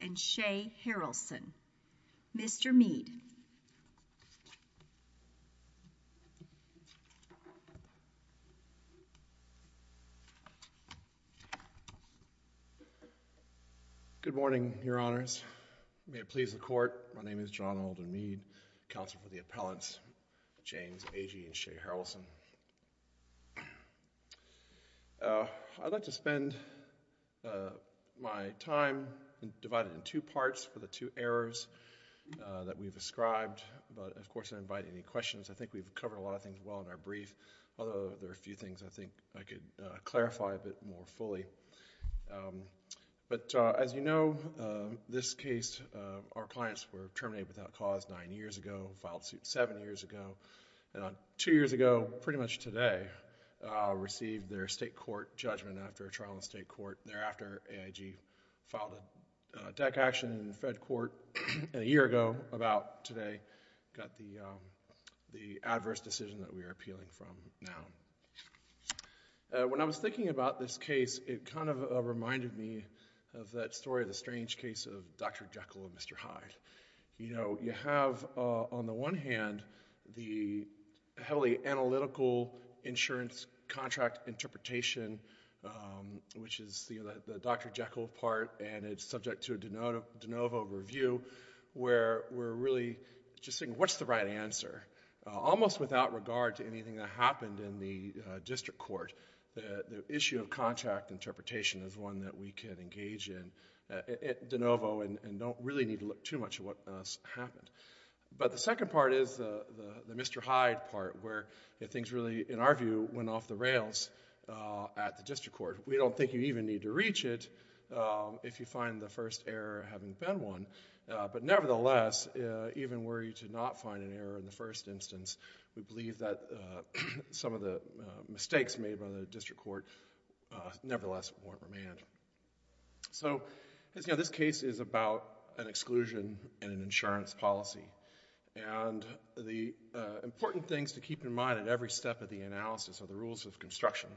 and Shea Harrelson. Mr. Mead. Good morning, Your Honors. May it please the Court, my name is John Alden Mead, Counsel for the Appellants, James Agee and Shea Harrelson. I'd like to spend my time divided in two parts with the two errors that we've ascribed, but of course I don't invite any questions. I think we've covered a lot of things well in our brief, although there are a few things I think I could clarify a bit more fully. But as you know, this case, our clients were terminated without cause nine years ago, filed suit seven years ago, and two years ago, pretty much today, received their state court judgment after a trial in state court. Thereafter, AIG filed a deck action in the fed court a year ago, about today, got the adverse decision that we are appealing from now. When I was thinking about this case, it kind of reminded me of that story, the strange case of Dr. Jekyll and Mr. Hyde. You know, you have on the one hand, the heavily analytical insurance contract interpretation, which is the Dr. Jekyll part, and it's subject to a de novo review, where we're really just saying, what's the right answer? Almost without regard to anything that happened in the district court, the issue of contract interpretation is one that we can engage in de novo and don't really need to look too much at what has happened. But the second part is the Mr. Hyde part, where things really, in our view, went off the rails at the district court. We don't think you even need to reach it if you find the first error having been one, but nevertheless, even were you to not find an error in the first instance, we believe that some of the mistakes made by the district court, nevertheless, weren't remanded. So this case is about an exclusion in an insurance policy, and the important things to keep in mind at every step of the analysis are the rules of construction.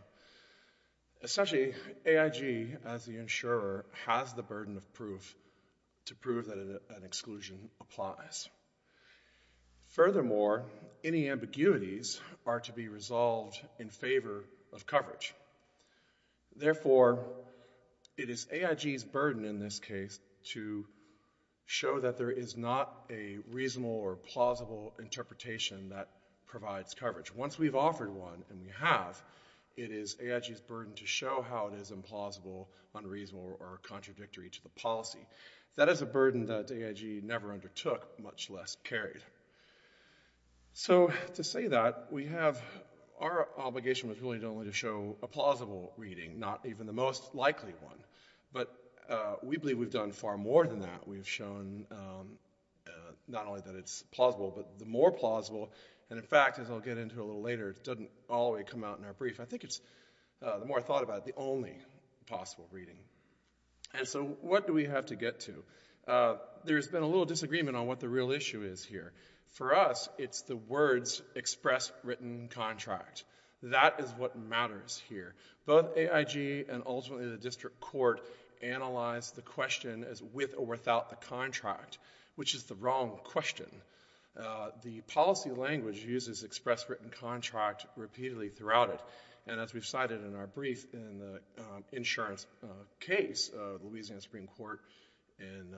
Essentially, AIG, as the insurer, has the burden of proof to prove that an exclusion applies. Furthermore, any ambiguities are to be resolved in favor of coverage. Therefore, it is AIG's burden in this case to show that there is not a reasonable or plausible interpretation that provides coverage. Once we've offered one, and we have, it is AIG's burden to show how it is implausible, unreasonable, or contradictory to the policy. That is a burden that AIG never undertook, much less carried. So to say that, our obligation was really only to show a plausible reading, not even the most likely one. But we believe we've done far more than that. We've shown not only that it's plausible, but the more plausible, and in fact, as I'll get into a little later, it doesn't always come out in our brief, I think it's, the more I thought about it, the only possible reading. And so what do we have to get to? There's been a little disagreement on what the real issue is here. For us, it's the words express written contract. That is what matters here. Both AIG and ultimately the district court analyzed the question as with or without the contract, which is the wrong question. The policy language uses express written contract repeatedly throughout it. And as we've cited in our brief, in the insurance case, Louisiana Supreme Court in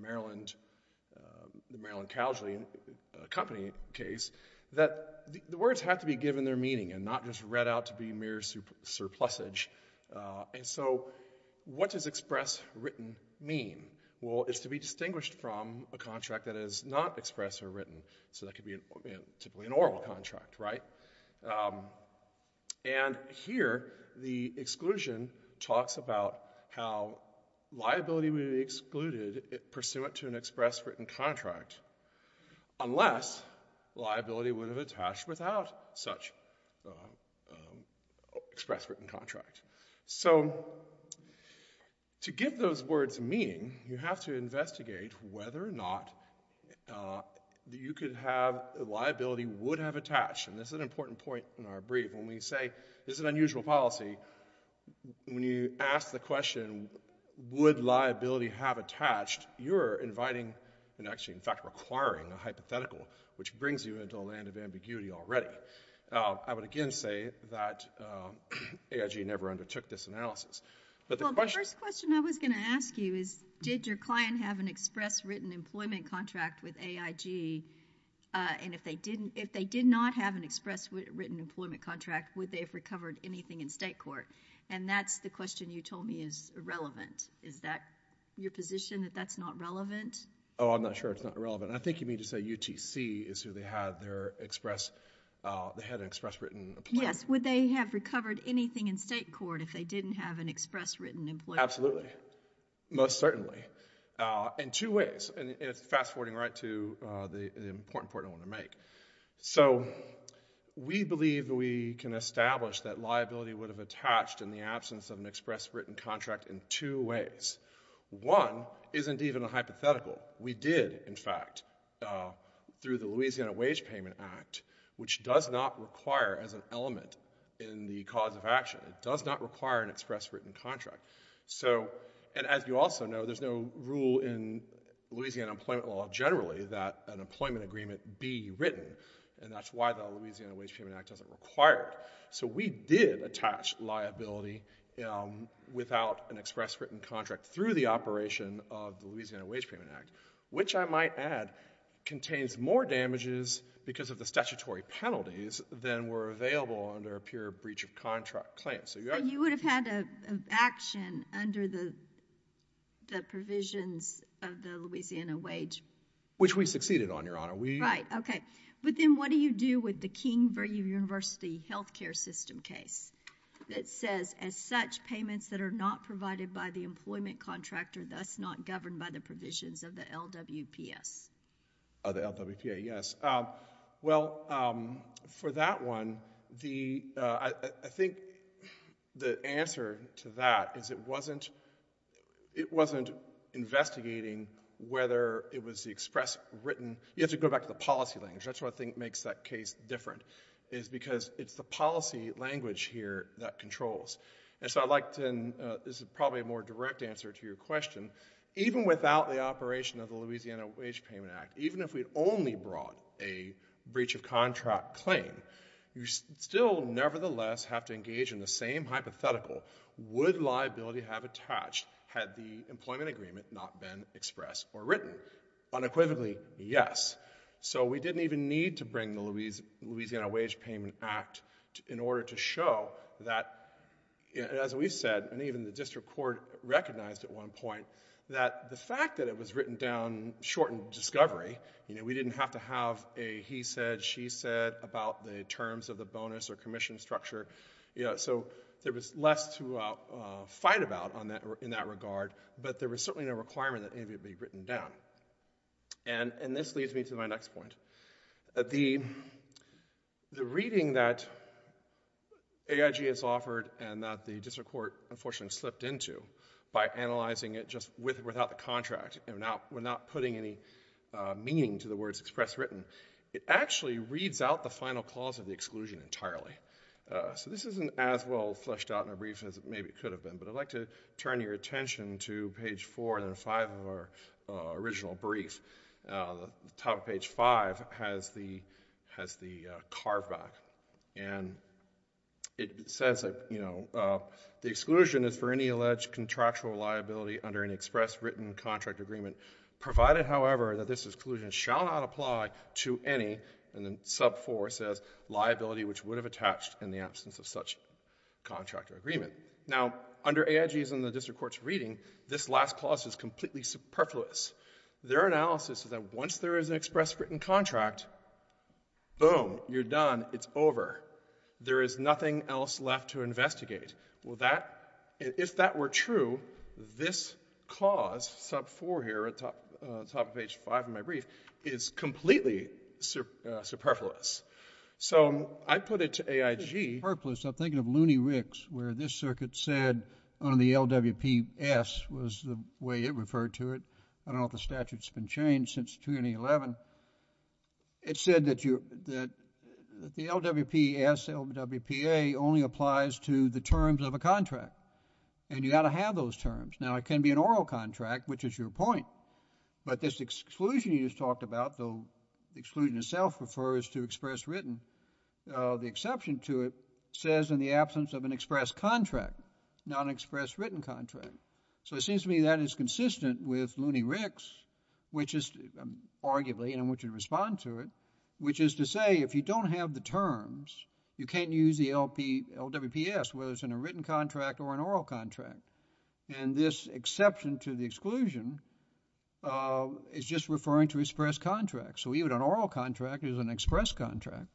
Maryland, the Maryland Calgary company case, that the words have to be given their meaning and not just read out to be mere surplusage. And so what does express written mean? Well, it's to be distinguished from a contract that is not express or written. So that could be typically an oral contract, right? And here, the exclusion talks about how liability would be excluded pursuant to an express written contract, unless liability would have attached without such express written contract. So to give those words meaning, you have to investigate whether or not you could have, liability would have attached. And this is an important point in our brief. When we say this is an unusual policy, when you ask the question, would liability have attached, you're inviting, and actually, in fact, requiring a hypothetical, which brings you into a land of ambiguity already. I would again say that AIG never undertook this analysis. Well, the first question I was going to ask you is, did your client have an express written employment contract with AIG? And if they did not have an express written employment contract, would they have recovered anything in state court? And that's the question you told me is irrelevant. Is that your position, that that's not relevant? Oh, I'm not sure it's not relevant. I think you mean to say UTC is who they had their express, they had an express written employment. Yes. Would they have recovered anything in state court if they didn't have an express written employment contract? Absolutely. Most certainly. In two ways. And fast forwarding right to the important point I want to make. So we believe that we can establish that liability would have attached in the absence of an express written contract in two ways. One isn't even a hypothetical. We did, in fact, through the Louisiana Wage Payment Act, which does not require as an element in the cause of action, it does not require an express written contract. So, and as you also know, there's no rule in Louisiana employment law generally that an employment agreement be written, and that's why the Louisiana Wage Payment Act doesn't require it. So we did attach liability without an express written contract through the operation of the Louisiana Wage Payment Act, which I might add contains more damages because of the statutory penalties than were available under a pure breach of contract claim. So you would have had an action under the provisions of the Louisiana Wage? Which we succeeded on, Your Honor. Right. Okay. But then what do you do with the King Virginia University health care system case that says, as such, payments that are not provided by the employment contractor, thus not governed by the provisions of the LWPS? Oh, the LWPS, yes. Well, for that one, I think the answer to that is it wasn't investigating whether it was the express written... you have to go back to the policy language. That's the policy language here that controls. And so I'd like to... this is probably a more direct answer to your question. Even without the operation of the Louisiana Wage Payment Act, even if we'd only brought a breach of contract claim, you still nevertheless have to engage in the same hypothetical. Would liability have attached had the employment agreement not been expressed or written? Unequivocally, yes. So we didn't even need to bring the Louisiana Wage Payment Act in order to show that, as we said, and even the district court recognized at one point, that the fact that it was written down shortened discovery. We didn't have to have a he said, she said about the terms of the bonus or commission structure. So there was less to fight about in that regard, but there was certainly no requirement that it be expressed or written. The reading that AIG has offered and that the district court unfortunately slipped into by analyzing it just without the contract, we're not putting any meaning to the words express written, it actually reads out the final clause of the exclusion entirely. So this isn't as well fleshed out in a brief as maybe it could have been, but I'd like to turn your attention to page four and five of our original brief. The top of page five has the carve back and it says, you know, the exclusion is for any alleged contractual liability under an express written contract agreement provided, however, that this exclusion shall not apply to any, and then sub four says, liability which would have attached in the absence of such contract or agreement. Now, under AIG's and the district court's analysis, this last clause is completely superfluous. Their analysis is that once there is an express written contract, boom, you're done, it's over. There is nothing else left to investigate. Well, that, if that were true, this cause sub four here at the top of page five of my brief is completely superfluous. So I put it to AIG, I'm thinking of Looney P.S. was the way it referred to it. I don't know if the statute's been changed since 2011. It said that you, that the LWPS, LWPA only applies to the terms of a contract and you got to have those terms. Now it can be an oral contract, which is your point, but this exclusion you just talked about, the exclusion itself refers to express written. The exception to it says in the absence of an express contract, not an express written contract. So it seems to me that is consistent with Looney Ricks, which is arguably, and I want you to respond to it, which is to say if you don't have the terms, you can't use the LWPS, whether it's in a written contract or an oral contract. And this exception to the exclusion is just referring to express contract. So even an oral contract is an express contract.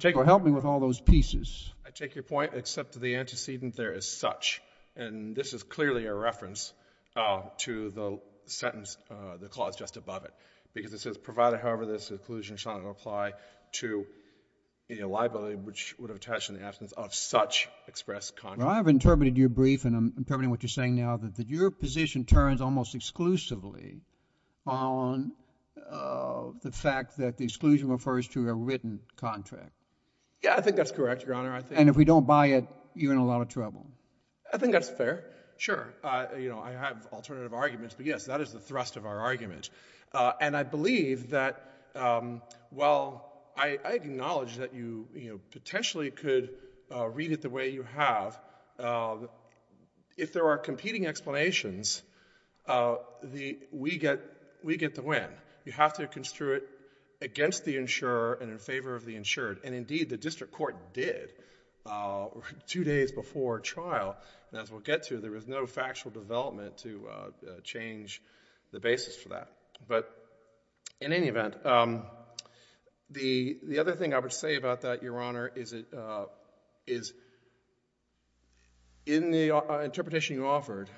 So help me with all those pieces. I take your point, except the antecedent there is such, and this is clearly a reference to the sentence, the clause just above it, because it says provided, however, this exclusion shall not apply to any liability which would have attached in the absence of such express contract. I have interpreted your brief and I'm interpreting what you're saying now, that your position turns almost exclusively on the fact that the exclusion refers to a written contract. Yeah, I think that's correct, Your Honor. And if we don't buy it, you're in a lot of trouble. I think that's fair. Sure. I have alternative arguments, but yes, that is the thrust of our argument. And I believe that while I acknowledge that you potentially could read it the way you have, if there are competing explanations, we get the win. You have to construe it against the insurer and in favor of the insured. And indeed, the district court did two days before trial, and as we'll get to, there was no factual development to change the basis for that. But in any event, the other thing I would say about that, Your Honor, is that I think in the interpretation you offered,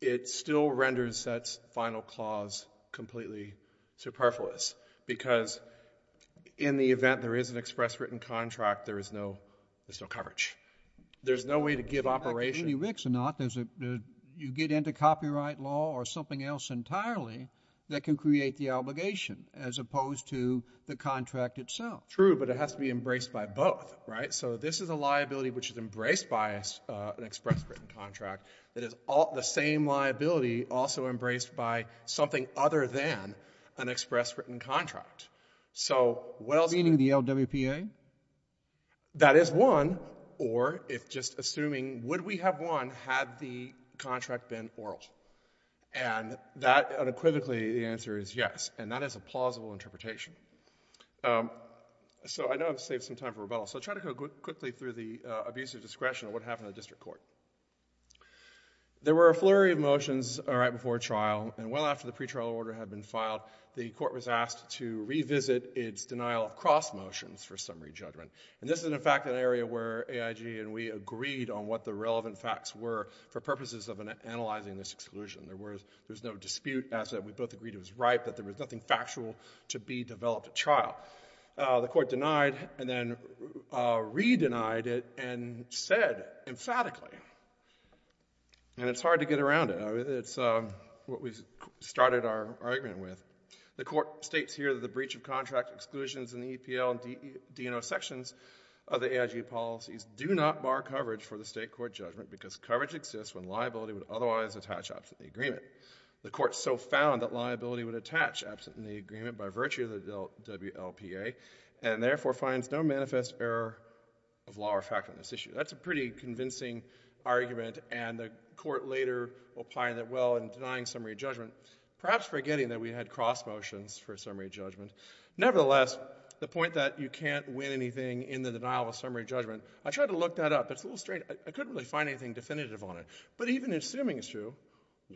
it still renders that final clause completely superfluous, because in the event there is an express written contract, there is no coverage. There's no way to give operation. Like a community rixonaut, you get into copyright law or something else entirely that can create the obligation, as opposed to the contract itself. True, but it has to be embraced by both, right? So this is a liability which is embraced by an express written contract. It is the same liability also embraced by something other than an express written contract. So what else? Meaning the LWPA? That is one, or if just assuming, would we have won had the contract been oral? And that So I know I've saved some time for rebuttal, so I'll try to go quickly through the abuse of discretion and what happened in the district court. There were a flurry of motions right before trial, and well after the pretrial order had been filed, the court was asked to revisit its denial of cross motions for summary judgment. And this is, in fact, an area where AIG and we agreed on what the relevant facts were for purposes of analyzing this exclusion. There was no dispute as we both agreed it was right, that there was nothing factual to be developed at trial. The court denied and then re-denied it and said emphatically, and it's hard to get around it. It's what we started our argument with. The court states here that the breach of contract exclusions in the EPL and D&O sections of the AIG policies do not bar coverage for the state court judgment because coverage exists when liability would otherwise attach up to the agreement. The court so found that liability would attach absent the agreement by virtue of the WLPA and therefore finds no manifest error of law or fact on this issue. That's a pretty convincing argument, and the court later opined that, well, in denying summary judgment, perhaps forgetting that we had cross motions for summary judgment. Nevertheless, the point that you can't win anything in the denial of summary judgment, I tried to look that up. It's a little strange. I couldn't really find anything definitive on it. But even assuming it's true,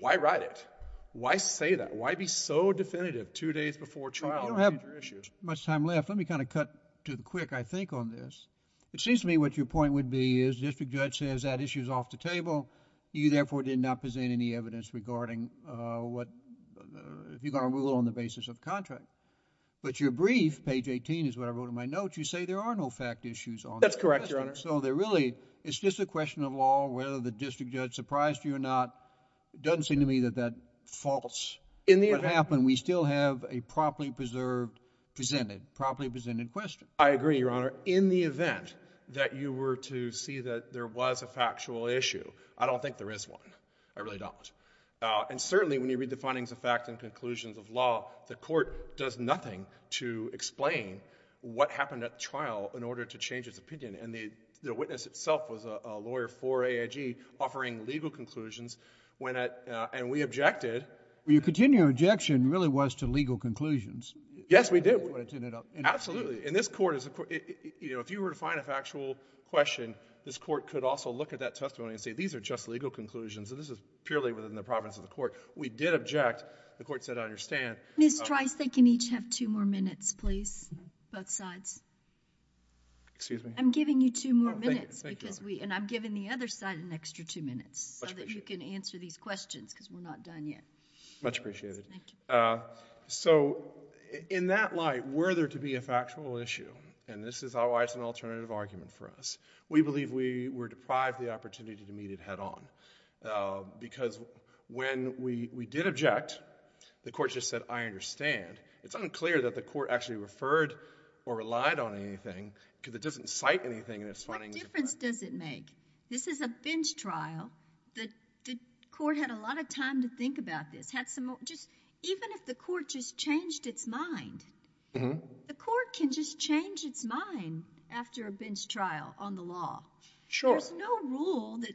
why write it? Why say that? Why be so definitive two days before trial on major issues? You don't have much time left. Let me kind of cut to the quick, I think, on this. It seems to me what your point would be is district judge says that issue is off the table. You therefore did not present any evidence regarding what, if you're going to rule on the basis of contract. But your brief, page 18 is what I wrote in my note, you say there are no fact issues on it. That's correct, Your Honor. So they're really, it's just a question of law, whether the district judge surprised you or not. It doesn't seem to me that that faults what happened. We still have a properly preserved, presented, properly presented question. I agree, Your Honor. In the event that you were to see that there was a factual issue, I don't think there is one. I really don't. And certainly when you read the findings of fact and conclusions of law, the court does nothing to explain what happened at trial in order to change its opinion. And the witness itself was a lawyer for AIG offering legal conclusions when it, and we objected. Well, your continuing objection really was to legal conclusions. Yes, we did. Absolutely. And this court is, you know, if you were to find a factual question, this court could also look at that testimony and say, these are just legal conclusions. And this is purely within the province of the court. We did object. The court said, I understand. Ms. Trice, they can each have two more minutes, please. Both sides. Excuse me? I'm giving you two more minutes because we, and I'm giving the other side an extra two minutes so that you can answer these questions because we're not done yet. Much appreciated. So in that light, were there to be a factual issue, and this is why it's an alternative argument for us, we believe we were deprived the opportunity to meet it head on. Because when we, we did object, the court just said, I understand. It's unclear that the court actually referred or relied on anything because it doesn't cite anything in its findings. What difference does it make? This is a bench trial. The court had a lot of time to think about this. Had some, just, even if the court just changed its mind, the court can just change its mind after a bench trial on the law. Sure. There's no rule that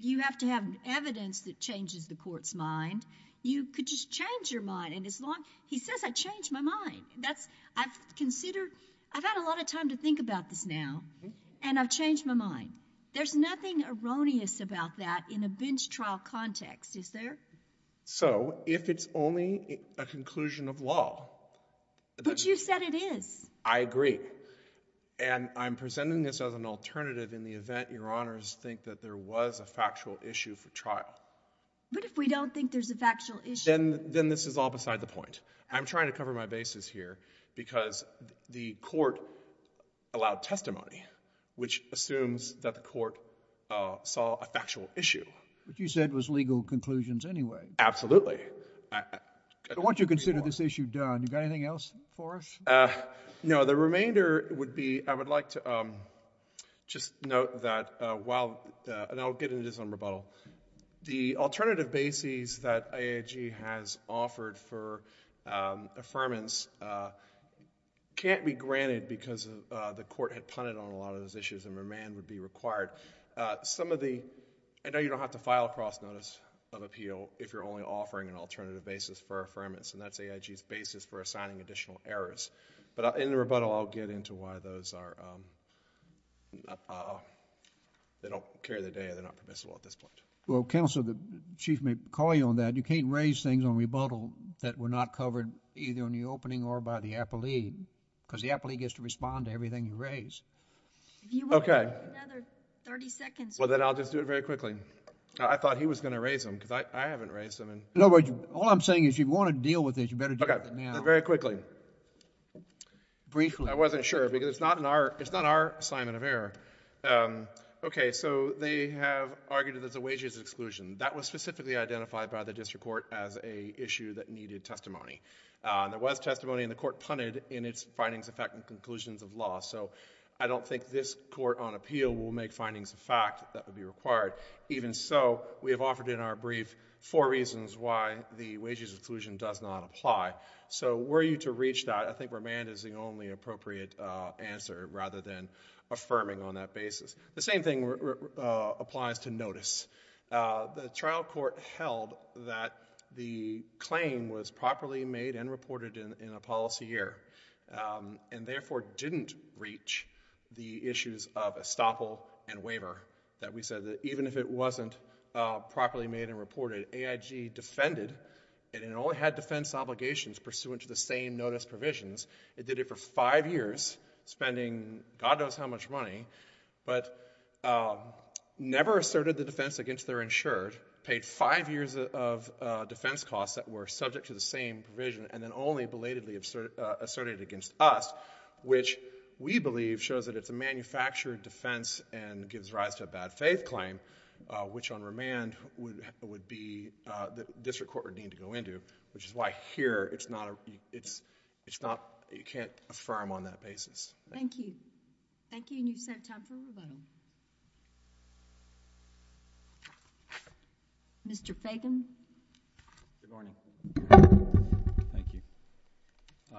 you have to have evidence that changes the court's mind. You could just change your mind, and as long, he says I changed my mind. That's, I've considered, I've had a lot of time to think about this now, and I've changed my mind. There's nothing erroneous about that in a bench trial context, is there? So if it's only a conclusion of law. But you said it is. I agree. And I'm presenting this as an alternative in the event your honors think that there was a factual issue for trial. But if we don't think there's a factual issue. Then this is all beside the point. I'm trying to cover my bases here because the court allowed testimony which assumes that the court saw a factual issue. But you said it was legal conclusions anyway. Absolutely. I want you to consider this issue done. You got anything else for us? No. The remainder would be, I would like to just note that while, and I'll get into this on rebuttal. The alternative bases that IAG has offered for affirmance can't be granted because the court had punted on a lot of those issues and remand would be required. Some of the, I know you don't have to file a cross notice of appeal if you're only offering an alternative basis for affirmance. And that's AIG's basis for assigning additional errors. But in the rebuttal I'll get into why those are, they don't carry the data, they're not permissible at this point. Well counsel, the chief may call you on that. You can't raise things on rebuttal that were not covered either on the opening or by the appellee. Because the appellee gets to respond to everything you raise. Okay. Another 30 seconds. Well then I'll just do it very quickly. I thought he was going to raise them because I haven't raised them. No, but all I'm saying is if you want to deal with it, you better do it now. Okay. Very quickly. Briefly. I wasn't sure because it's not in our, it's not our assignment of error. Okay, so they have argued that there's a wages exclusion. That was specifically identified by the district court as a issue that needed testimony. There was testimony and the court punted in its findings of fact and conclusions of law. So I don't think this court on appeal will make findings of fact that would be required. Even so, we have offered in our brief four reasons why the wages exclusion does not apply. So were you to reach that, I think remand is the only appropriate answer rather than affirming on that basis. The same thing applies to notice. The trial court held that the claim was properly made and reported in a policy year and therefore didn't reach the issues of estoppel and waiver that we said that even if it wasn't properly made and reported, AIG defended and it only had defense obligations pursuant to the same notice provisions. It did it for five years spending God knows how much money, but never asserted the defense against their insured, paid five years of defense costs that were subject to the same provision and then only belatedly asserted against us, which we believe shows that it's a manufactured defense and gives rise to a bad faith claim, which on remand would be the district court would need to go into, which is why here it's not, it's not, you can't affirm on that basis. Thank you. Thank you and you set a time for rebuttal. Mr. Fagan. Good morning. Thank you.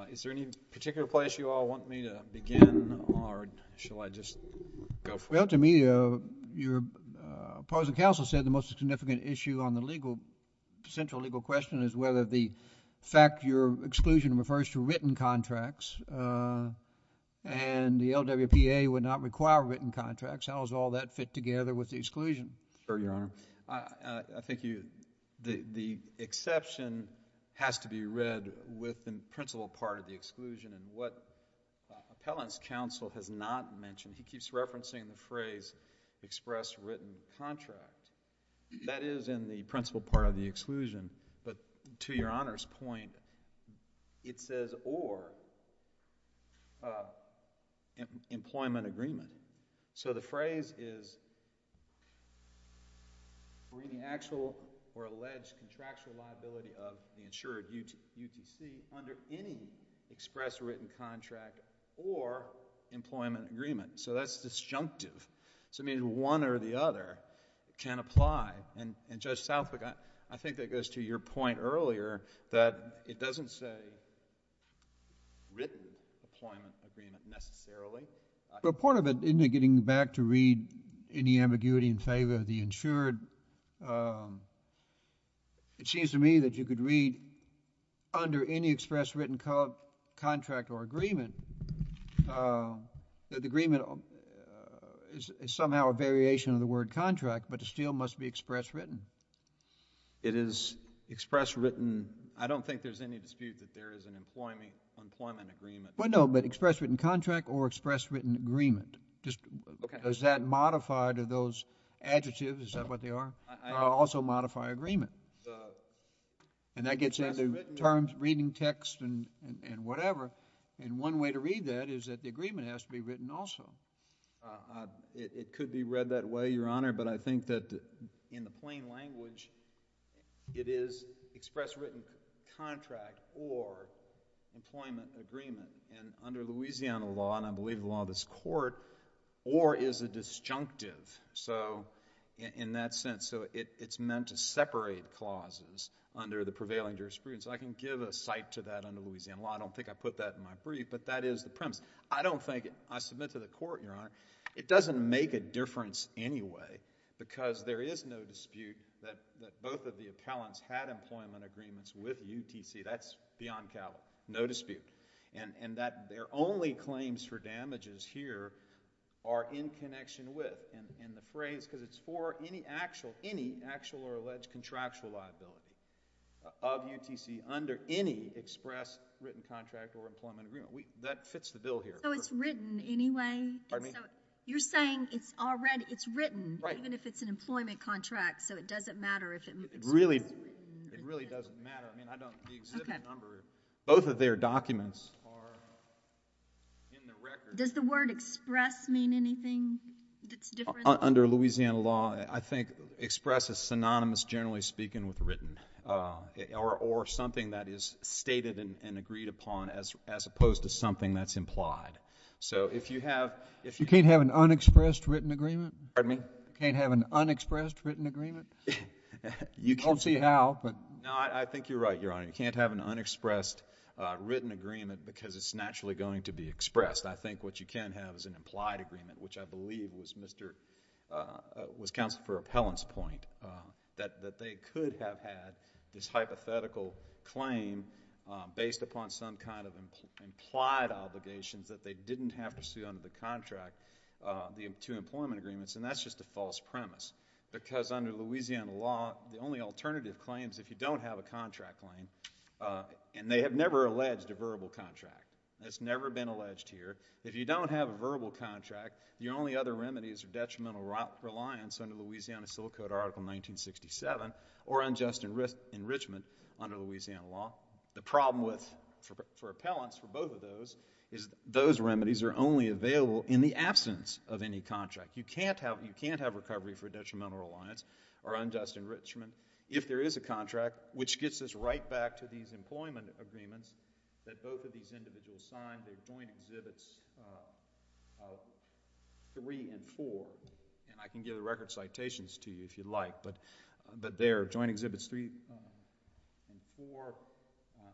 Is there any particular place you all want me to begin or shall I just go for it? Well, to me, your opposing counsel said the most significant issue on the legal, central legal question is whether the fact your exclusion refers to written contracts and the LWPA would not require written contracts. How does all that fit together with the exclusion? Sure, Your Honor. I think you, the exception has to be read within principal part of the exclusion and what appellant's counsel has not mentioned, he keeps referencing the phrase express written contract. That is in the principal part of the exclusion, but to Your Honor's point, it says or employment agreement. So the phrase is for any actual or alleged contractual liability of the insured UTC under any express written contract or employment agreement. So that's disjunctive. So it means one or the other can apply. And Judge Southwick, I think that goes to your point earlier that it doesn't say written employment agreement necessarily. But part of it, in getting back to read any ambiguity in favor of the insured, it seems to me that you could read under any express written contract or agreement that the agreement is somehow a variation of the word contract, but it still must be express written. It is express written. I don't think there's any dispute that there is an employment agreement. Well, no, but express written contract or express written agreement. Does that modify to those adjectives? Is that what they are? Also modify agreement. And that gets into terms reading text and whatever. And one way to read that is that the agreement has to be written also. It could be read that way, Your Honor, but I think that in the plain language, it is express written contract or employment agreement. And under Louisiana law, and I believe the law of this Court, or is a disjunctive in that sense. So it's meant to separate clauses under the prevailing jurisprudence. I can give a cite to that under Louisiana law. I don't think I put that in my brief, but that is the premise. I don't think, I submit to the Court, Your Honor, it doesn't make a difference anyway because there is no dispute that both of the appellants had employment agreements with UTC. That's beyond callous. No dispute. And that their only claims for damages here are in connection with, and the phrase, because it's for any actual or alleged contractual liability of UTC under any express written contract or employment agreement. That fits the bill here. So it's written anyway? Pardon me? You're saying it's already, it's written even if it's an employment contract, so it doesn't matter if it's express written? It really doesn't matter. I mean, I don't, the exhibit number, both of their documents are in the record. Does the word express mean anything that's different? Under Louisiana law, I think express is synonymous, generally speaking, with written, or something that is stated and agreed upon as opposed to something that's implied. So if you have, if you You can't have an unexpressed written agreement? Pardon me? You can't have an unexpressed written agreement? I don't see how, but No, I think you're right, Your Honor. You can't have an unexpressed written agreement because it's naturally going to be expressed. I think what you can have is an implied agreement, which I believe was Mr., was Counsel for Appellant's point, that they could have had this hypothetical claim based upon some kind of implied obligations that they didn't have to see under the contract, the two employment agreements, and that's just a false premise. Because under Louisiana law, the only alternative claims, if you don't have a contract claim, and they have never alleged a verbal contract. It's never been alleged here. If you don't have a verbal contract, your only other remedies are detrimental reliance under Louisiana Civil Code Article 1967 or unjust enrichment under Louisiana law. The problem with, for appellants, for both of those, is those remedies are only available in the absence of any contract. You can't have recovery for detrimental reliance or unjust enrichment if there is a contract, which gets us right back to these employment agreements that both of these individuals signed. They've joined Exhibits 3 and 4, and I can give the record citations to you if you'd like, but they're joined Exhibits 3 and 4.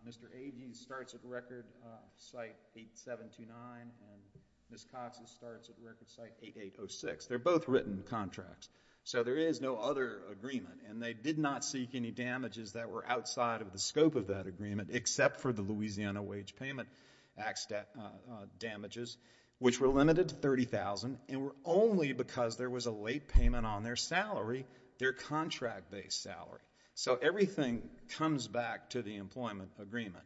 Mr. Agee starts at record site 8729, and Ms. Cox starts at record site 8806. They're both written contracts, so there is no other agreement, and they did not seek any damages that were outside of the scope of that agreement except for the Louisiana wage payment damages, which were limited to $30,000 and were only because there was a late payment on their salary, their contract-based salary. So everything comes back to the employment agreement.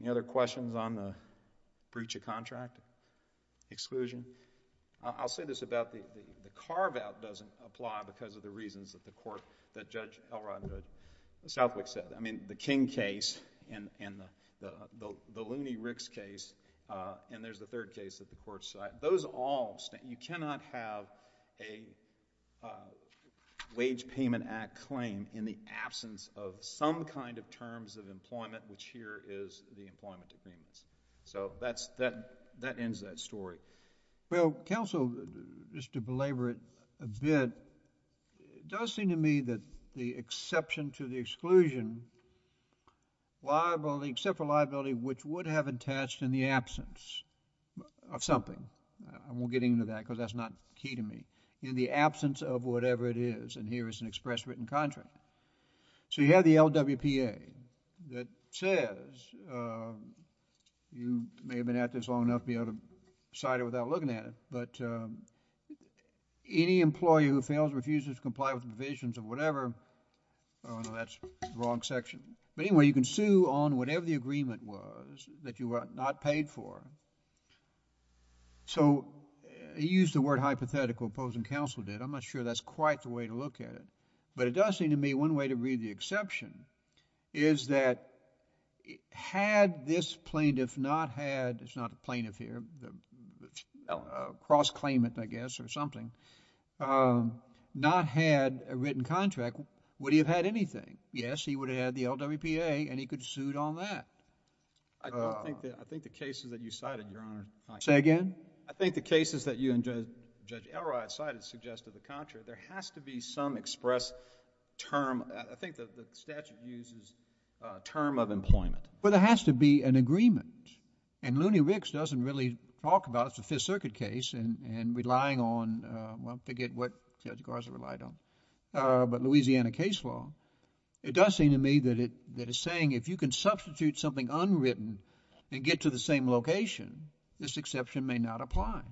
Any other questions on the breach of contract exclusion? I'll say this about the carve-out doesn't apply because of the reasons that the court, that Judge Elrod Southwick said. I mean, the King case and the Looney-Ricks case, and there's the third case that the court cited, those all... you cannot have a Wage Payment Act claim in the absence of some kind of terms of employment, which here is the employment agreements. So that ends that story. Well, Counsel, just to belabor it a bit, it does seem to me that the exception to the exclusion, except for liability, which would have attached in the absence of something. I won't get into that because that's not key to me. In the absence of whatever it is, and here is an express written contract. So you have the LWPA that says, you may have been at this long enough to be able to cite it without looking at it, but any employee who fails or refuses to comply with the provisions of whatever... oh, no, that's the wrong section. But anyway, you can sue on whatever the agreement was that you were not paid for. So he used the word hypothetical, opposing Counsel did. I'm not sure that's quite the way to look at it. But it does seem to me one way to read the exception is that had this plaintiff not had... it's not a plaintiff here, a cross-claimant, I guess, or something, not had a written contract, would he have had anything? Yes, he would have had the LWPA and he could have sued on that. I think the cases that you cited, Your Honor... Say again? I think the cases that you and Judge Elrod cited suggested the contrary. There has to be some express term. I think the statute uses term of employment. But there has to be an agreement. And Looney Ricks doesn't really talk about it. It's a Fifth Circuit case and relying on... well, forget what Judge Garza relied on, but Louisiana case law. It does seem to me that it's saying if you can substitute something unwritten and get to the same location, this exception may not apply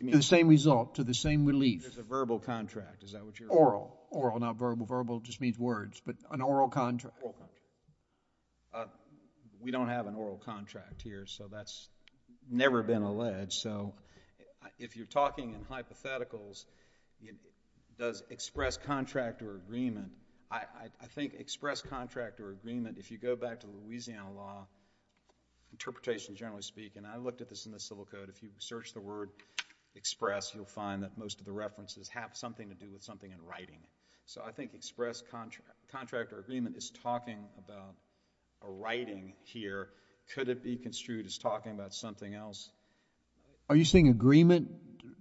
to the same result, to the same relief. There's a verbal contract. Is that what you're... Oral. Oral, not verbal. Verbal just means words, but an oral contract. We don't have an oral contract here, so that's never been alleged. If you're talking in hypotheticals, does express contract or agreement... I think express contract or agreement, if you go back to Louisiana law, interpretation generally speaking, I looked at this in the Civil Code, if you search the word express, you'll find that most of the references have something to do with something in writing. So I think express contract or agreement is talking about a writing here. Could it be construed as talking about something else? Are you saying agreement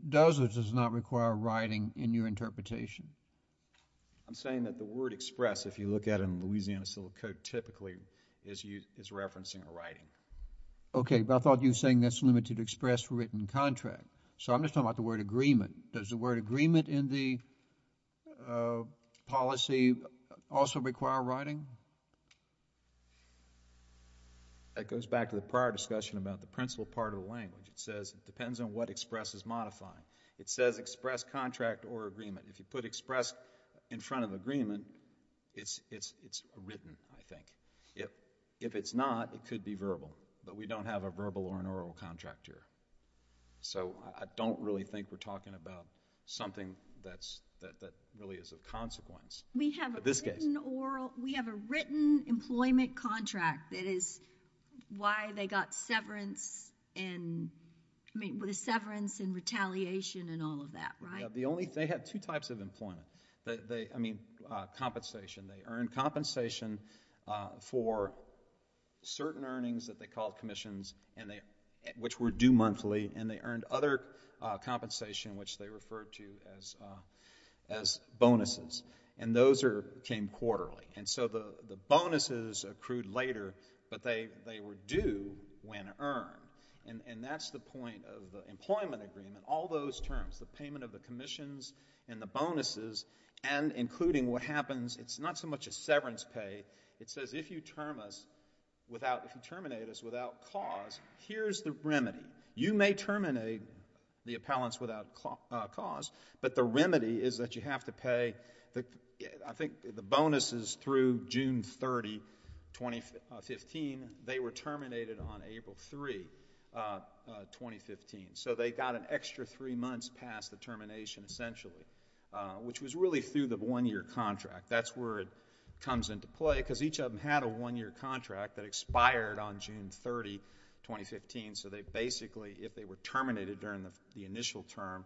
does or does not require writing in your interpretation? I'm saying that the word express, if you look at it in Louisiana Civil Code, typically is referencing a writing. Okay, but I thought you were saying that's limited to express written contract. So I'm agreement in the policy also require writing? That goes back to the prior discussion about the principal part of the language. It says it depends on what express is modifying. It says express contract or agreement. If you put express in front of agreement, it's written, I think. If it's not, it could be verbal, but we don't have a verbal or an oral contract here. So I don't really think we're talking about something that really is a consequence. We have a written employment contract that is why they got severance and retaliation and all of that, right? They had two types of employment. I mean, compensation. They earned compensation for certain earnings that they called commissions, which were due monthly, and they earned other compensation, which they referred to as bonuses. And those came quarterly. And so the bonuses accrued later, but they were due when earned. And that's the point of the employment agreement. All those terms, the payment of the commissions and the bonuses, and including what happens, it's not so much a severance pay. It says if you term us without, if you terminate us without cause, but the remedy is that you have to pay, I think the bonuses through June 30, 2015, they were terminated on April 3, 2015. So they got an extra three months past the termination, essentially, which was really through the one-year contract. That's where it comes into play, because each of them had a one-year contract that expired on June 30, 2015. So they basically, if they were terminated during the initial term,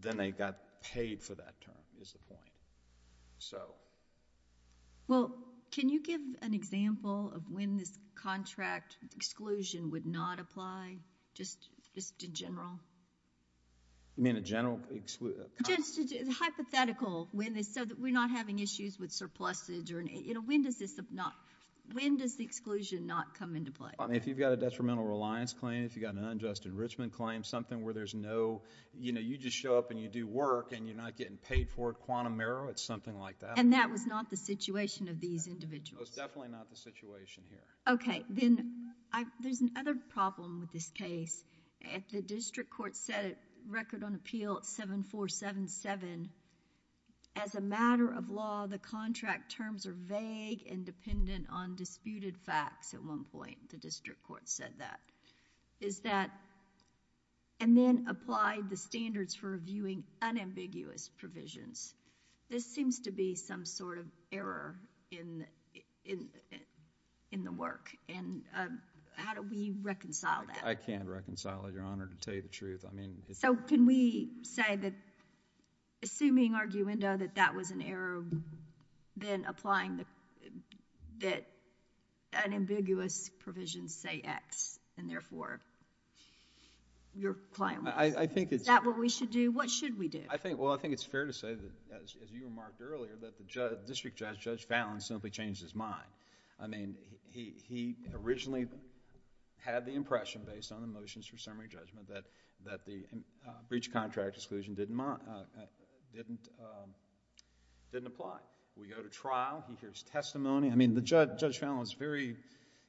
then they got paid for that term, is the point. Well, can you give an example of when this contract exclusion would not apply, just in general? You mean in general? Hypothetical, so that we're not having issues with surplusage. When does the exclusion not come into play? If you've got a detrimental reliance claim, if you've got an unjust enrichment claim, something where there's no... you just show up and you do work, and you're not getting paid for it, quantum error, it's something like that. And that was not the situation of these individuals? It was definitely not the situation here. Okay. Then, there's another problem with this case. If the district court set a record on appeal at 7477, as a matter of law, the contract terms are vague and dependent on disputed facts at one point, the district court said that. Is that... and then applied the standards for viewing unambiguous provisions. This seems to be some sort of error in the work. How do we reconcile that? I can't reconcile it, Your Honor, to tell you the truth. So, can we say that, assuming arguendo, that that was an error, then applying the... that unambiguous provisions say X, and therefore, your claim... I think it's... Is that what we should do? What should we do? Well, I think it's fair to say that, as you remarked earlier, that the district judge, Judge Fallin, simply changed his mind. I mean, he originally had the impression, based on the motions for summary judgment, that the breach of contract exclusion didn't apply. We go to trial, he hears testimony. I mean, Judge Fallin was very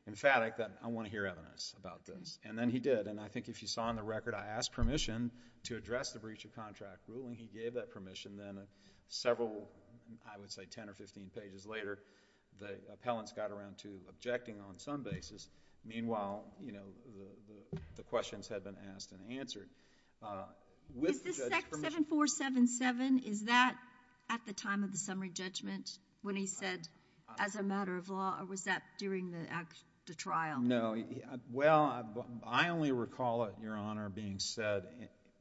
emphatic that I want to hear evidence about this, and then he did. I think if you saw in the record, I asked permission to address the breach of contract ruling. He gave that permission. Then, several, I would say ten or fifteen pages later, the appellants got around to objecting on some basis. Meanwhile, the questions had been asked and answered. Is this section 7477? Is that at the time of the summary judgment, when he said, as a matter of law, or was that during the trial? No. Well, I only recall it, Your Honor, being said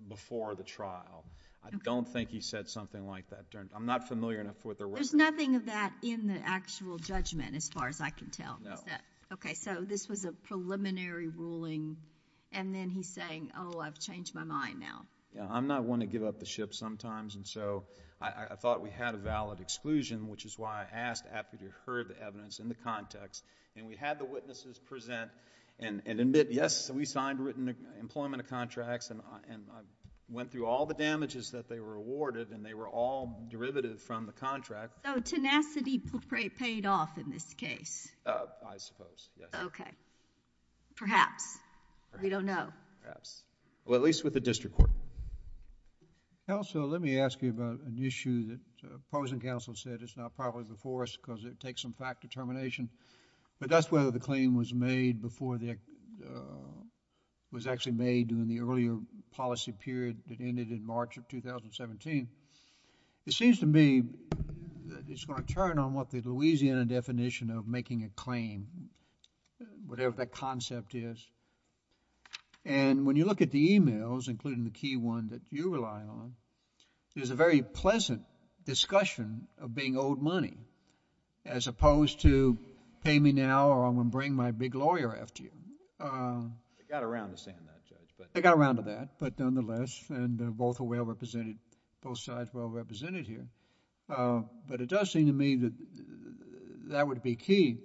before the trial. I don't think he said something like that. I'm not familiar enough with the record. There's nothing of that in the actual judgment, as far as I can tell, is that... This was a preliminary ruling, and then he's saying, oh, I've changed my mind now. I'm not one to give up the ship sometimes, and so I thought we had a valid exclusion, which is why I asked after you heard the evidence in the context. We had the witnesses present and admit, yes, we signed written employment contracts, and went through all the damages that they were awarded, and they were all derivative from the contract. So tenacity paid off in this case? I suppose, yes. Okay. Perhaps. We don't know. Perhaps. Well, at least with the district court. Counsel, let me ask you about an issue that opposing counsel said is not probably before us because it takes some fact determination, but that's whether the claim was made before the... was actually made during the earlier policy period that ended in March of 2017. It seems to me that it's going to turn on what the Louisiana definition of making a claim, whatever that concept is, and when you look at the e-mails, including the key one that you rely on, there's a very pleasant discussion of being owed money as opposed to pay me now or I'm going to bring my big lawyer after you. They got around to saying that, Judge, but... Both sides well-represented here. But it does seem to me that that would be key.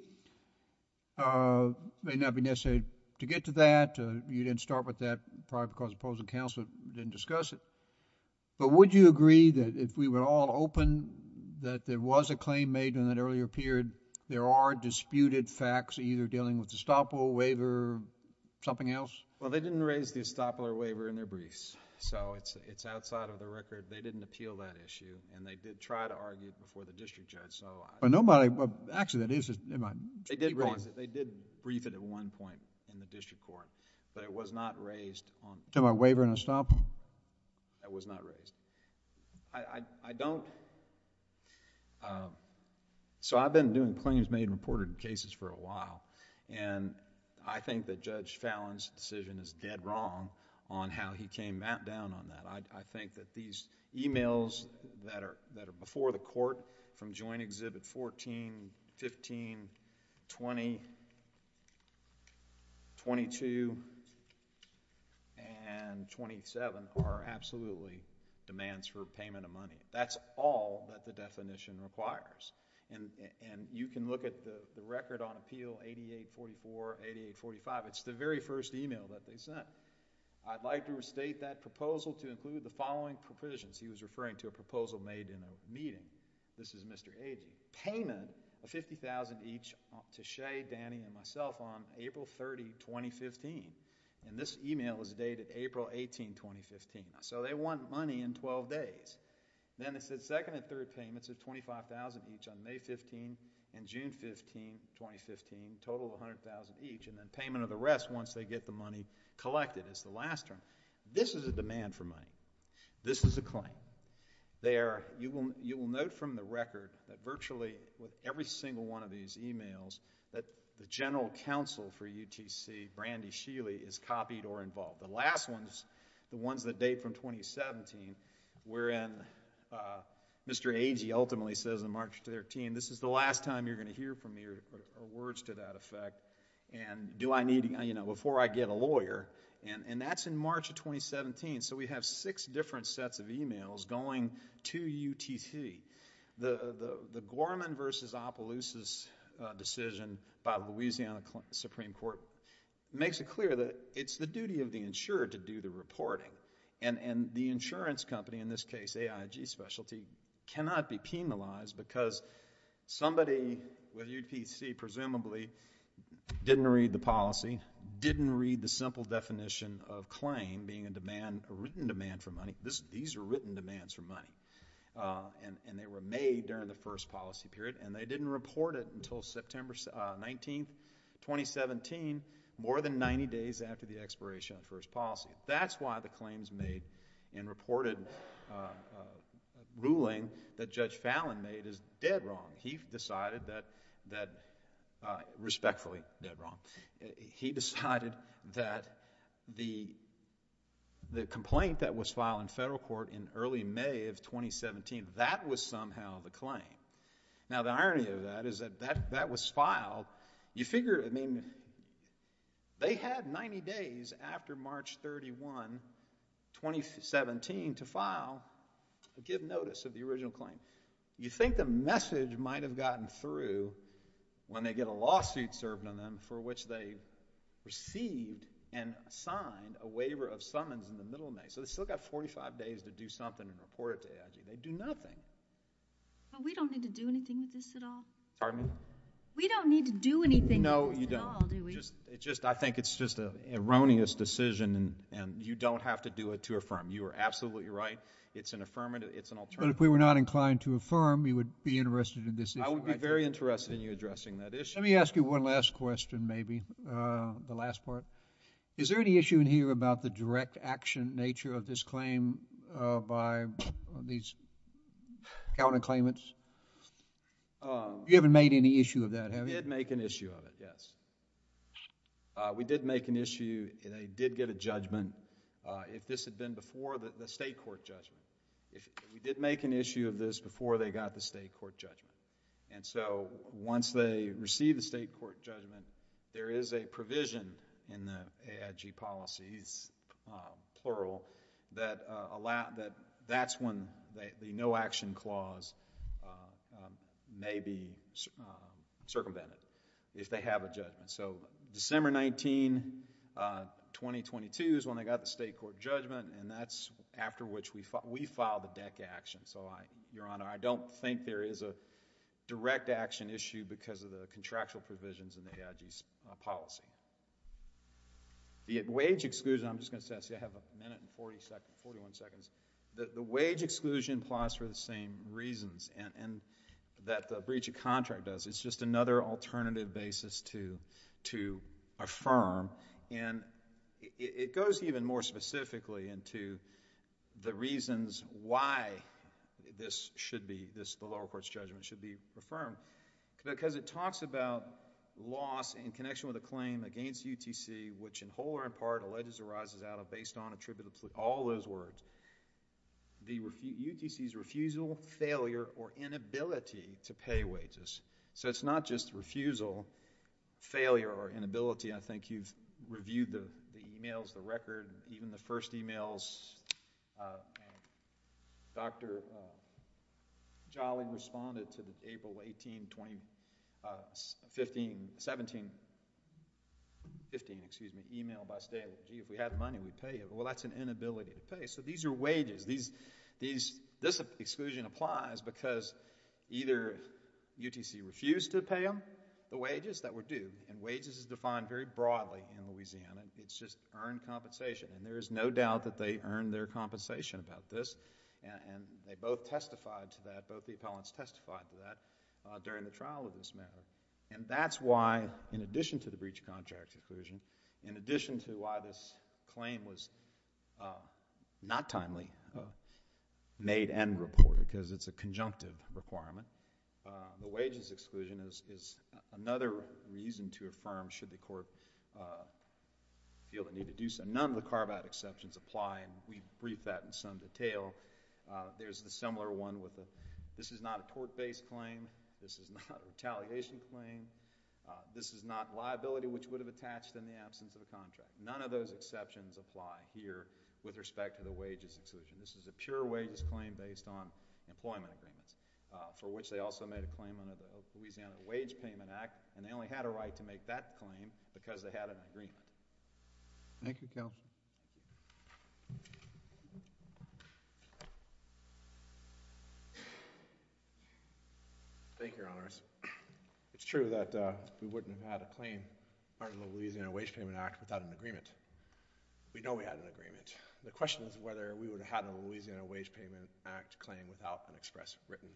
It may not be necessary to get to that. You didn't start with that probably because opposing counsel didn't discuss it. But would you agree that if we were all open that there was a claim made in that earlier period, there are disputed facts either dealing with estoppel, waiver, something else? Well, they didn't raise the estoppel or waiver in their briefs. So it's outside of the record. They didn't appeal that issue, and they did try to argue it before the district judge. But nobody... Actually, that is... They did raise it. They did brief it at one point in the district court, but it was not raised on... To my waiver and estoppel? That was not raised. I don't... So I've been doing claims made and reported in cases for a while, and I think that Judge Fallon's decision is dead wrong on how he came down on that. I think that these emails that are before the court from Joint Exhibit 14, 15, 20, 22, and 27 are absolutely demands for payment of money. That's all that the definition requires. And you can look at the record on appeal 8844, 8845. It's the very first email that they sent. I'd like to restate that proposal to include the following provisions. He was referring to a proposal made in a meeting. This is Mr. Agee. Payment of $50,000 each to Shea, Danny, and myself on April 30, 2015. And this email was dated April 18, 2015. So they want money in 12 days. Then it said second and third payments of $25,000 each on May 15 and June 15, 2015. Total of $100,000 each, and then payment of the rest once they get the money collected. It's the last term. This is a demand for money. This is a claim. You will note from the record that virtually with every single one of these emails that the general counsel for UTC, Brandy Sheely, is copied or involved. The last ones, the ones that date from 2017, wherein Mr. Agee ultimately says on March 13, this is the last time you're going to hear from me or words to that effect. And do I need, you know, before I get a lawyer. And that's in March of 2017. So we have six different sets of emails going to UTC. The Gorman v. Opelousa's decision by the Louisiana Supreme Court makes it clear that it's the duty of the insurer to do the reporting. And the insurance company, in this case AIG Specialty, cannot be penalized because somebody with UTC presumably didn't read the policy, didn't read the simple definition of claim being a demand, a written demand for money. These are written demands for money. And they were made during the first policy period. And they didn't report it until September 19, 2017, more than 90 days after the expiration of the first policy. That's why the claims made in reported ruling that Judge Fallin made is dead wrong. He decided that, respectfully, dead wrong. He decided that the complaint that was filed in federal court in early May of 2017, that was somehow the claim. Now, the irony of that is that that was filed. You figure, I mean, they had 90 days after March 31, 2017, to file a give notice of the original claim. You think the message might have gotten through when they get a lawsuit served on them for which they received and signed a waiver of summons in the middle of May. So they still got 45 days to do something and report it to AIG. They do nothing. But we don't need to do anything with this at all? Pardon me? We don't need to do anything with this at all, do we? I think it's just an erroneous decision. And you don't have to do it to affirm. You are absolutely right. It's an affirmative. It's an alternative. But if we were not inclined to affirm, you would be interested in this issue, right? I would be very interested in you addressing that issue. Let me ask you one last question, maybe, the last part. Is there any issue in here about the direct action nature of this claim by these counterclaimants? You haven't made any issue of that, have you? We did make an issue of it, yes. We did make an issue and they did get a judgment if this had been before the state court judgment. We did make an issue of this before they got the state court judgment. And so, once they receive the state court judgment, there is a provision in the AIG policies, plural, that that's when the no action clause may be circumvented, if they have a judgment. So, December 19, 2022 is when they got the state court judgment and that's after which we filed the deck action. So, Your Honor, I don't think there is a direct action issue because of the contractual provisions in the AIG's policy. The wage exclusion, I'm just going to say, I have a minute and 41 seconds. The wage exclusion clause for the same reasons that the breach of contract does. It's just another alternative basis to affirm. And it goes even more specifically into the reasons why this should be, the lower court's judgment should be affirmed. Because it talks about loss in connection with a claim against UTC, which in whole or in part alleges or arises out of, based on, attributable to, all those words. UTC's refusal, failure, or inability to pay wages. So, it's not just refusal, failure, or inability. I think you've reviewed the emails, the record, even the first emails. Dr. Jolly responded to the April 18, 2015, 17, 15, excuse me, email by state, if we had money we'd pay you. Well, that's an inability to pay. So, these are wages. This exclusion applies because either UTC refused to pay them the wages that were due. And wages is defined very broadly in Louisiana. It's just earned compensation. And there is no doubt that they earned their compensation about this. And they both testified to that, both the appellants testified to that, during the trial of this matter. And that's why, in addition to the breach of contract exclusion, in addition to why this claim was not timely, made and reported, because it's a conjunctive requirement. The wages exclusion is another reason to affirm, should the court feel the need to do so. None of the carve-out exceptions apply, and we've briefed that in some detail. There's the similar one with the, this is not a tort-based claim. This is not a retaliation claim. This is not liability which would have attached in the absence of a contract. None of those exceptions apply here with respect to the wages exclusion. This is a pure wages claim based on employment agreements, for which they also made a claim under the Louisiana Wage Payment Act. And they only had a right to make that claim because they had an agreement. Thank you, Counsel. Thank you, Your Honors. It's true that we wouldn't have had a claim under the Louisiana Wage Payment Act without an agreement. We know we had an agreement. The question is whether we would have had a Louisiana Wage Payment Act claim without an express written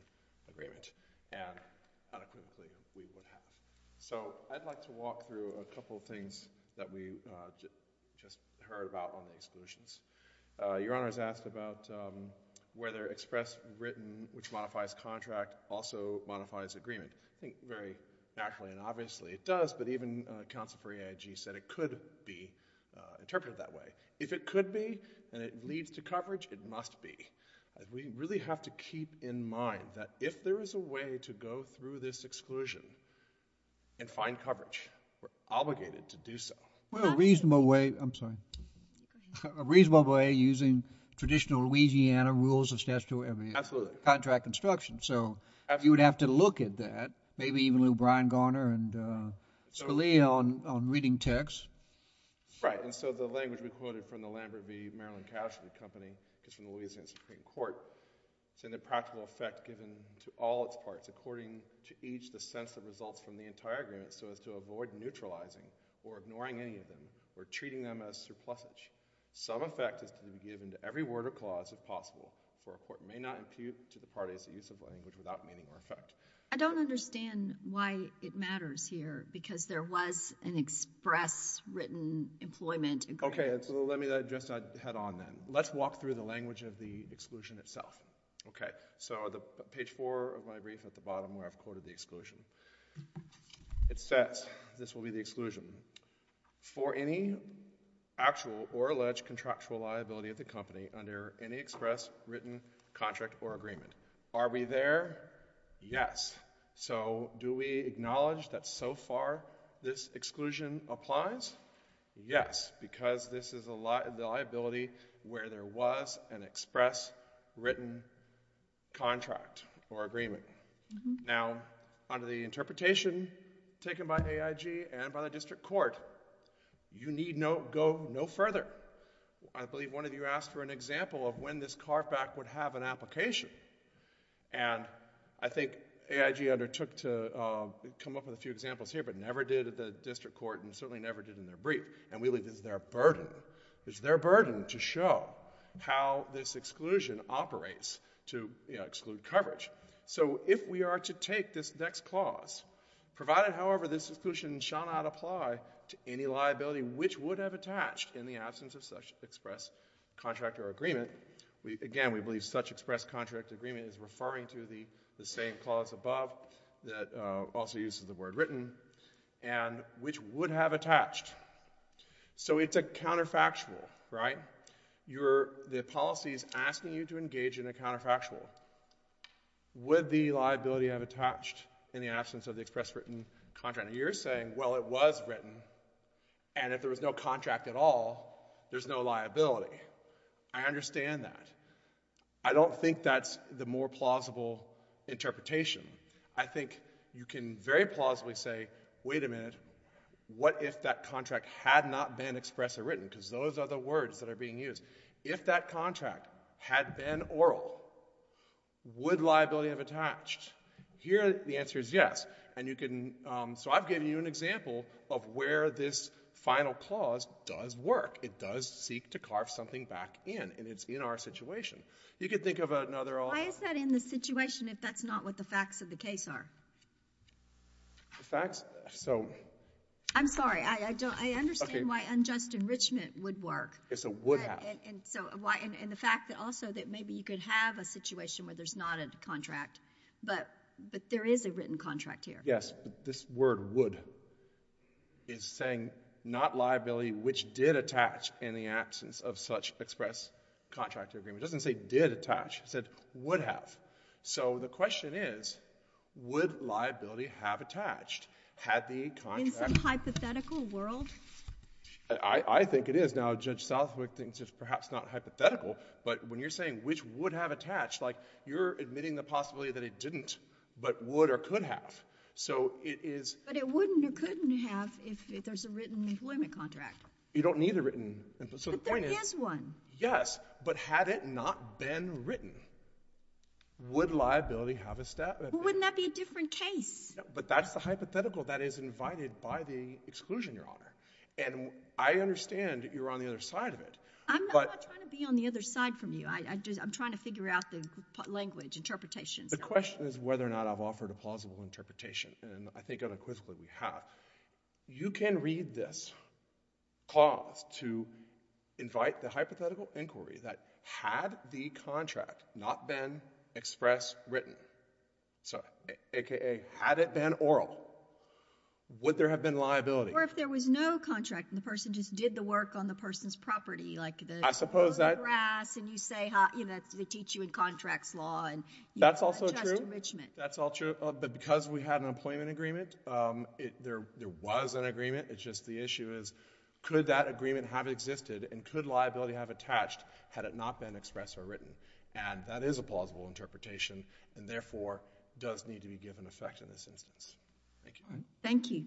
agreement, and adequately we would have. So I'd like to walk through a couple of things that we just heard about on the exclusions. Your Honors asked about whether express written, which modifies contract, also modifies agreement. I think very naturally and obviously it does, but even counsel for EIG said it could be interpreted that way. If it could be and it leads to coverage, it must be. We really have to keep in mind that if there is a way to go through this exclusion and find coverage, we're obligated to do so. Well, a reasonable way, I'm sorry, a reasonable way using traditional Louisiana rules of statutory contract construction. So you would have to look at that, maybe even Lou Brian Garner and Scalia on reading text. Right. And so the language we quoted from the Lambert v. Maryland Cash Company is from the Louisiana Supreme Court. It's in the practical effect given to all its parts, according to each the sense that results from the entire agreement, so as to avoid neutralizing or ignoring any of them or treating them as surplusage. Some effect is to be given to every word or clause if possible, for a court may not impute to the parties the use of language without meaning or effect. I don't understand why it matters here because there was an express written employment agreement. Okay. So let me just head on then. Let's walk through the language of the exclusion itself. Okay. So page four of my brief at the bottom where I've quoted the exclusion. It says, this will be the exclusion, for any actual or alleged contractual liability of the company under any express written contract or agreement. Are we there? Yes. So do we acknowledge that so far this exclusion applies? Yes, because this is the liability where there was an express written contract or agreement. Now, under the interpretation taken by AIG and by the district court, you need go no further. I believe one of you asked for an example of when this carve back would have an application. And I think AIG undertook to come up with a few examples here but never did at the district court and certainly never did in their brief. And we believe this is their burden. It's their burden to show how this exclusion operates to exclude coverage. So if we are to take this next clause, provided, however, this exclusion shall not apply to any liability which would have attached in the absence of such express contract or agreement, again, we believe such express contract or agreement is referring to the same clause above that also uses the word written, and which would have attached. So it's a counterfactual, right? The policy is asking you to engage in a counterfactual. Would the liability have attached in the absence of the express written contract? And you're saying, well, it was written, and if there was no contract at all, there's no liability. I understand that. I don't think that's the more plausible interpretation. I think you can very plausibly say, wait a minute, what if that contract had not been express or written? Because those are the words that are being used. If that contract had been oral, would liability have attached? Here the answer is yes. So I've given you an example of where this final clause does work. It does seek to carve something back in, and it's in our situation. You could think of another alternative. Why is that in the situation if that's not what the facts of the case are? The facts? I'm sorry. I understand why unjust enrichment would work. It's a would have. And the fact that also that maybe you could have a situation where there's not a contract, but there is a written contract here. Yes, this word would is saying not liability, which did attach in the absence of such express contract agreement. It doesn't say did attach. It said would have. So the question is, would liability have attached had the contract— In some hypothetical world? I think it is. Now, Judge Southwick thinks it's perhaps not hypothetical, but when you're saying which would have attached, you're admitting the possibility that it didn't, but would or could have. So it is— But it wouldn't or couldn't have if there's a written employment contract. You don't need a written— But there is one. Yes, but had it not been written, would liability have a— Wouldn't that be a different case? But that's the hypothetical that is invited by the exclusion, Your Honor. And I understand you're on the other side of it. I'm not trying to be on the other side from you. I'm trying to figure out the language, interpretations. The question is whether or not I've offered a plausible interpretation, and I think unequivocally we have. You can read this clause to invite the hypothetical inquiry that had the contract not been express written, a.k.a. had it been oral, would there have been liability? Or if there was no contract and the person just did the work on the person's property like the— I suppose that— And you harass and you say, you know, they teach you in contracts law and you adjust enrichment. That's also true. But because we had an employment agreement, there was an agreement. It's just the issue is could that agreement have existed and could liability have attached had it not been expressed or written? And that is a plausible interpretation and, therefore, does need to be given effect in this instance. Thank you. Thank you.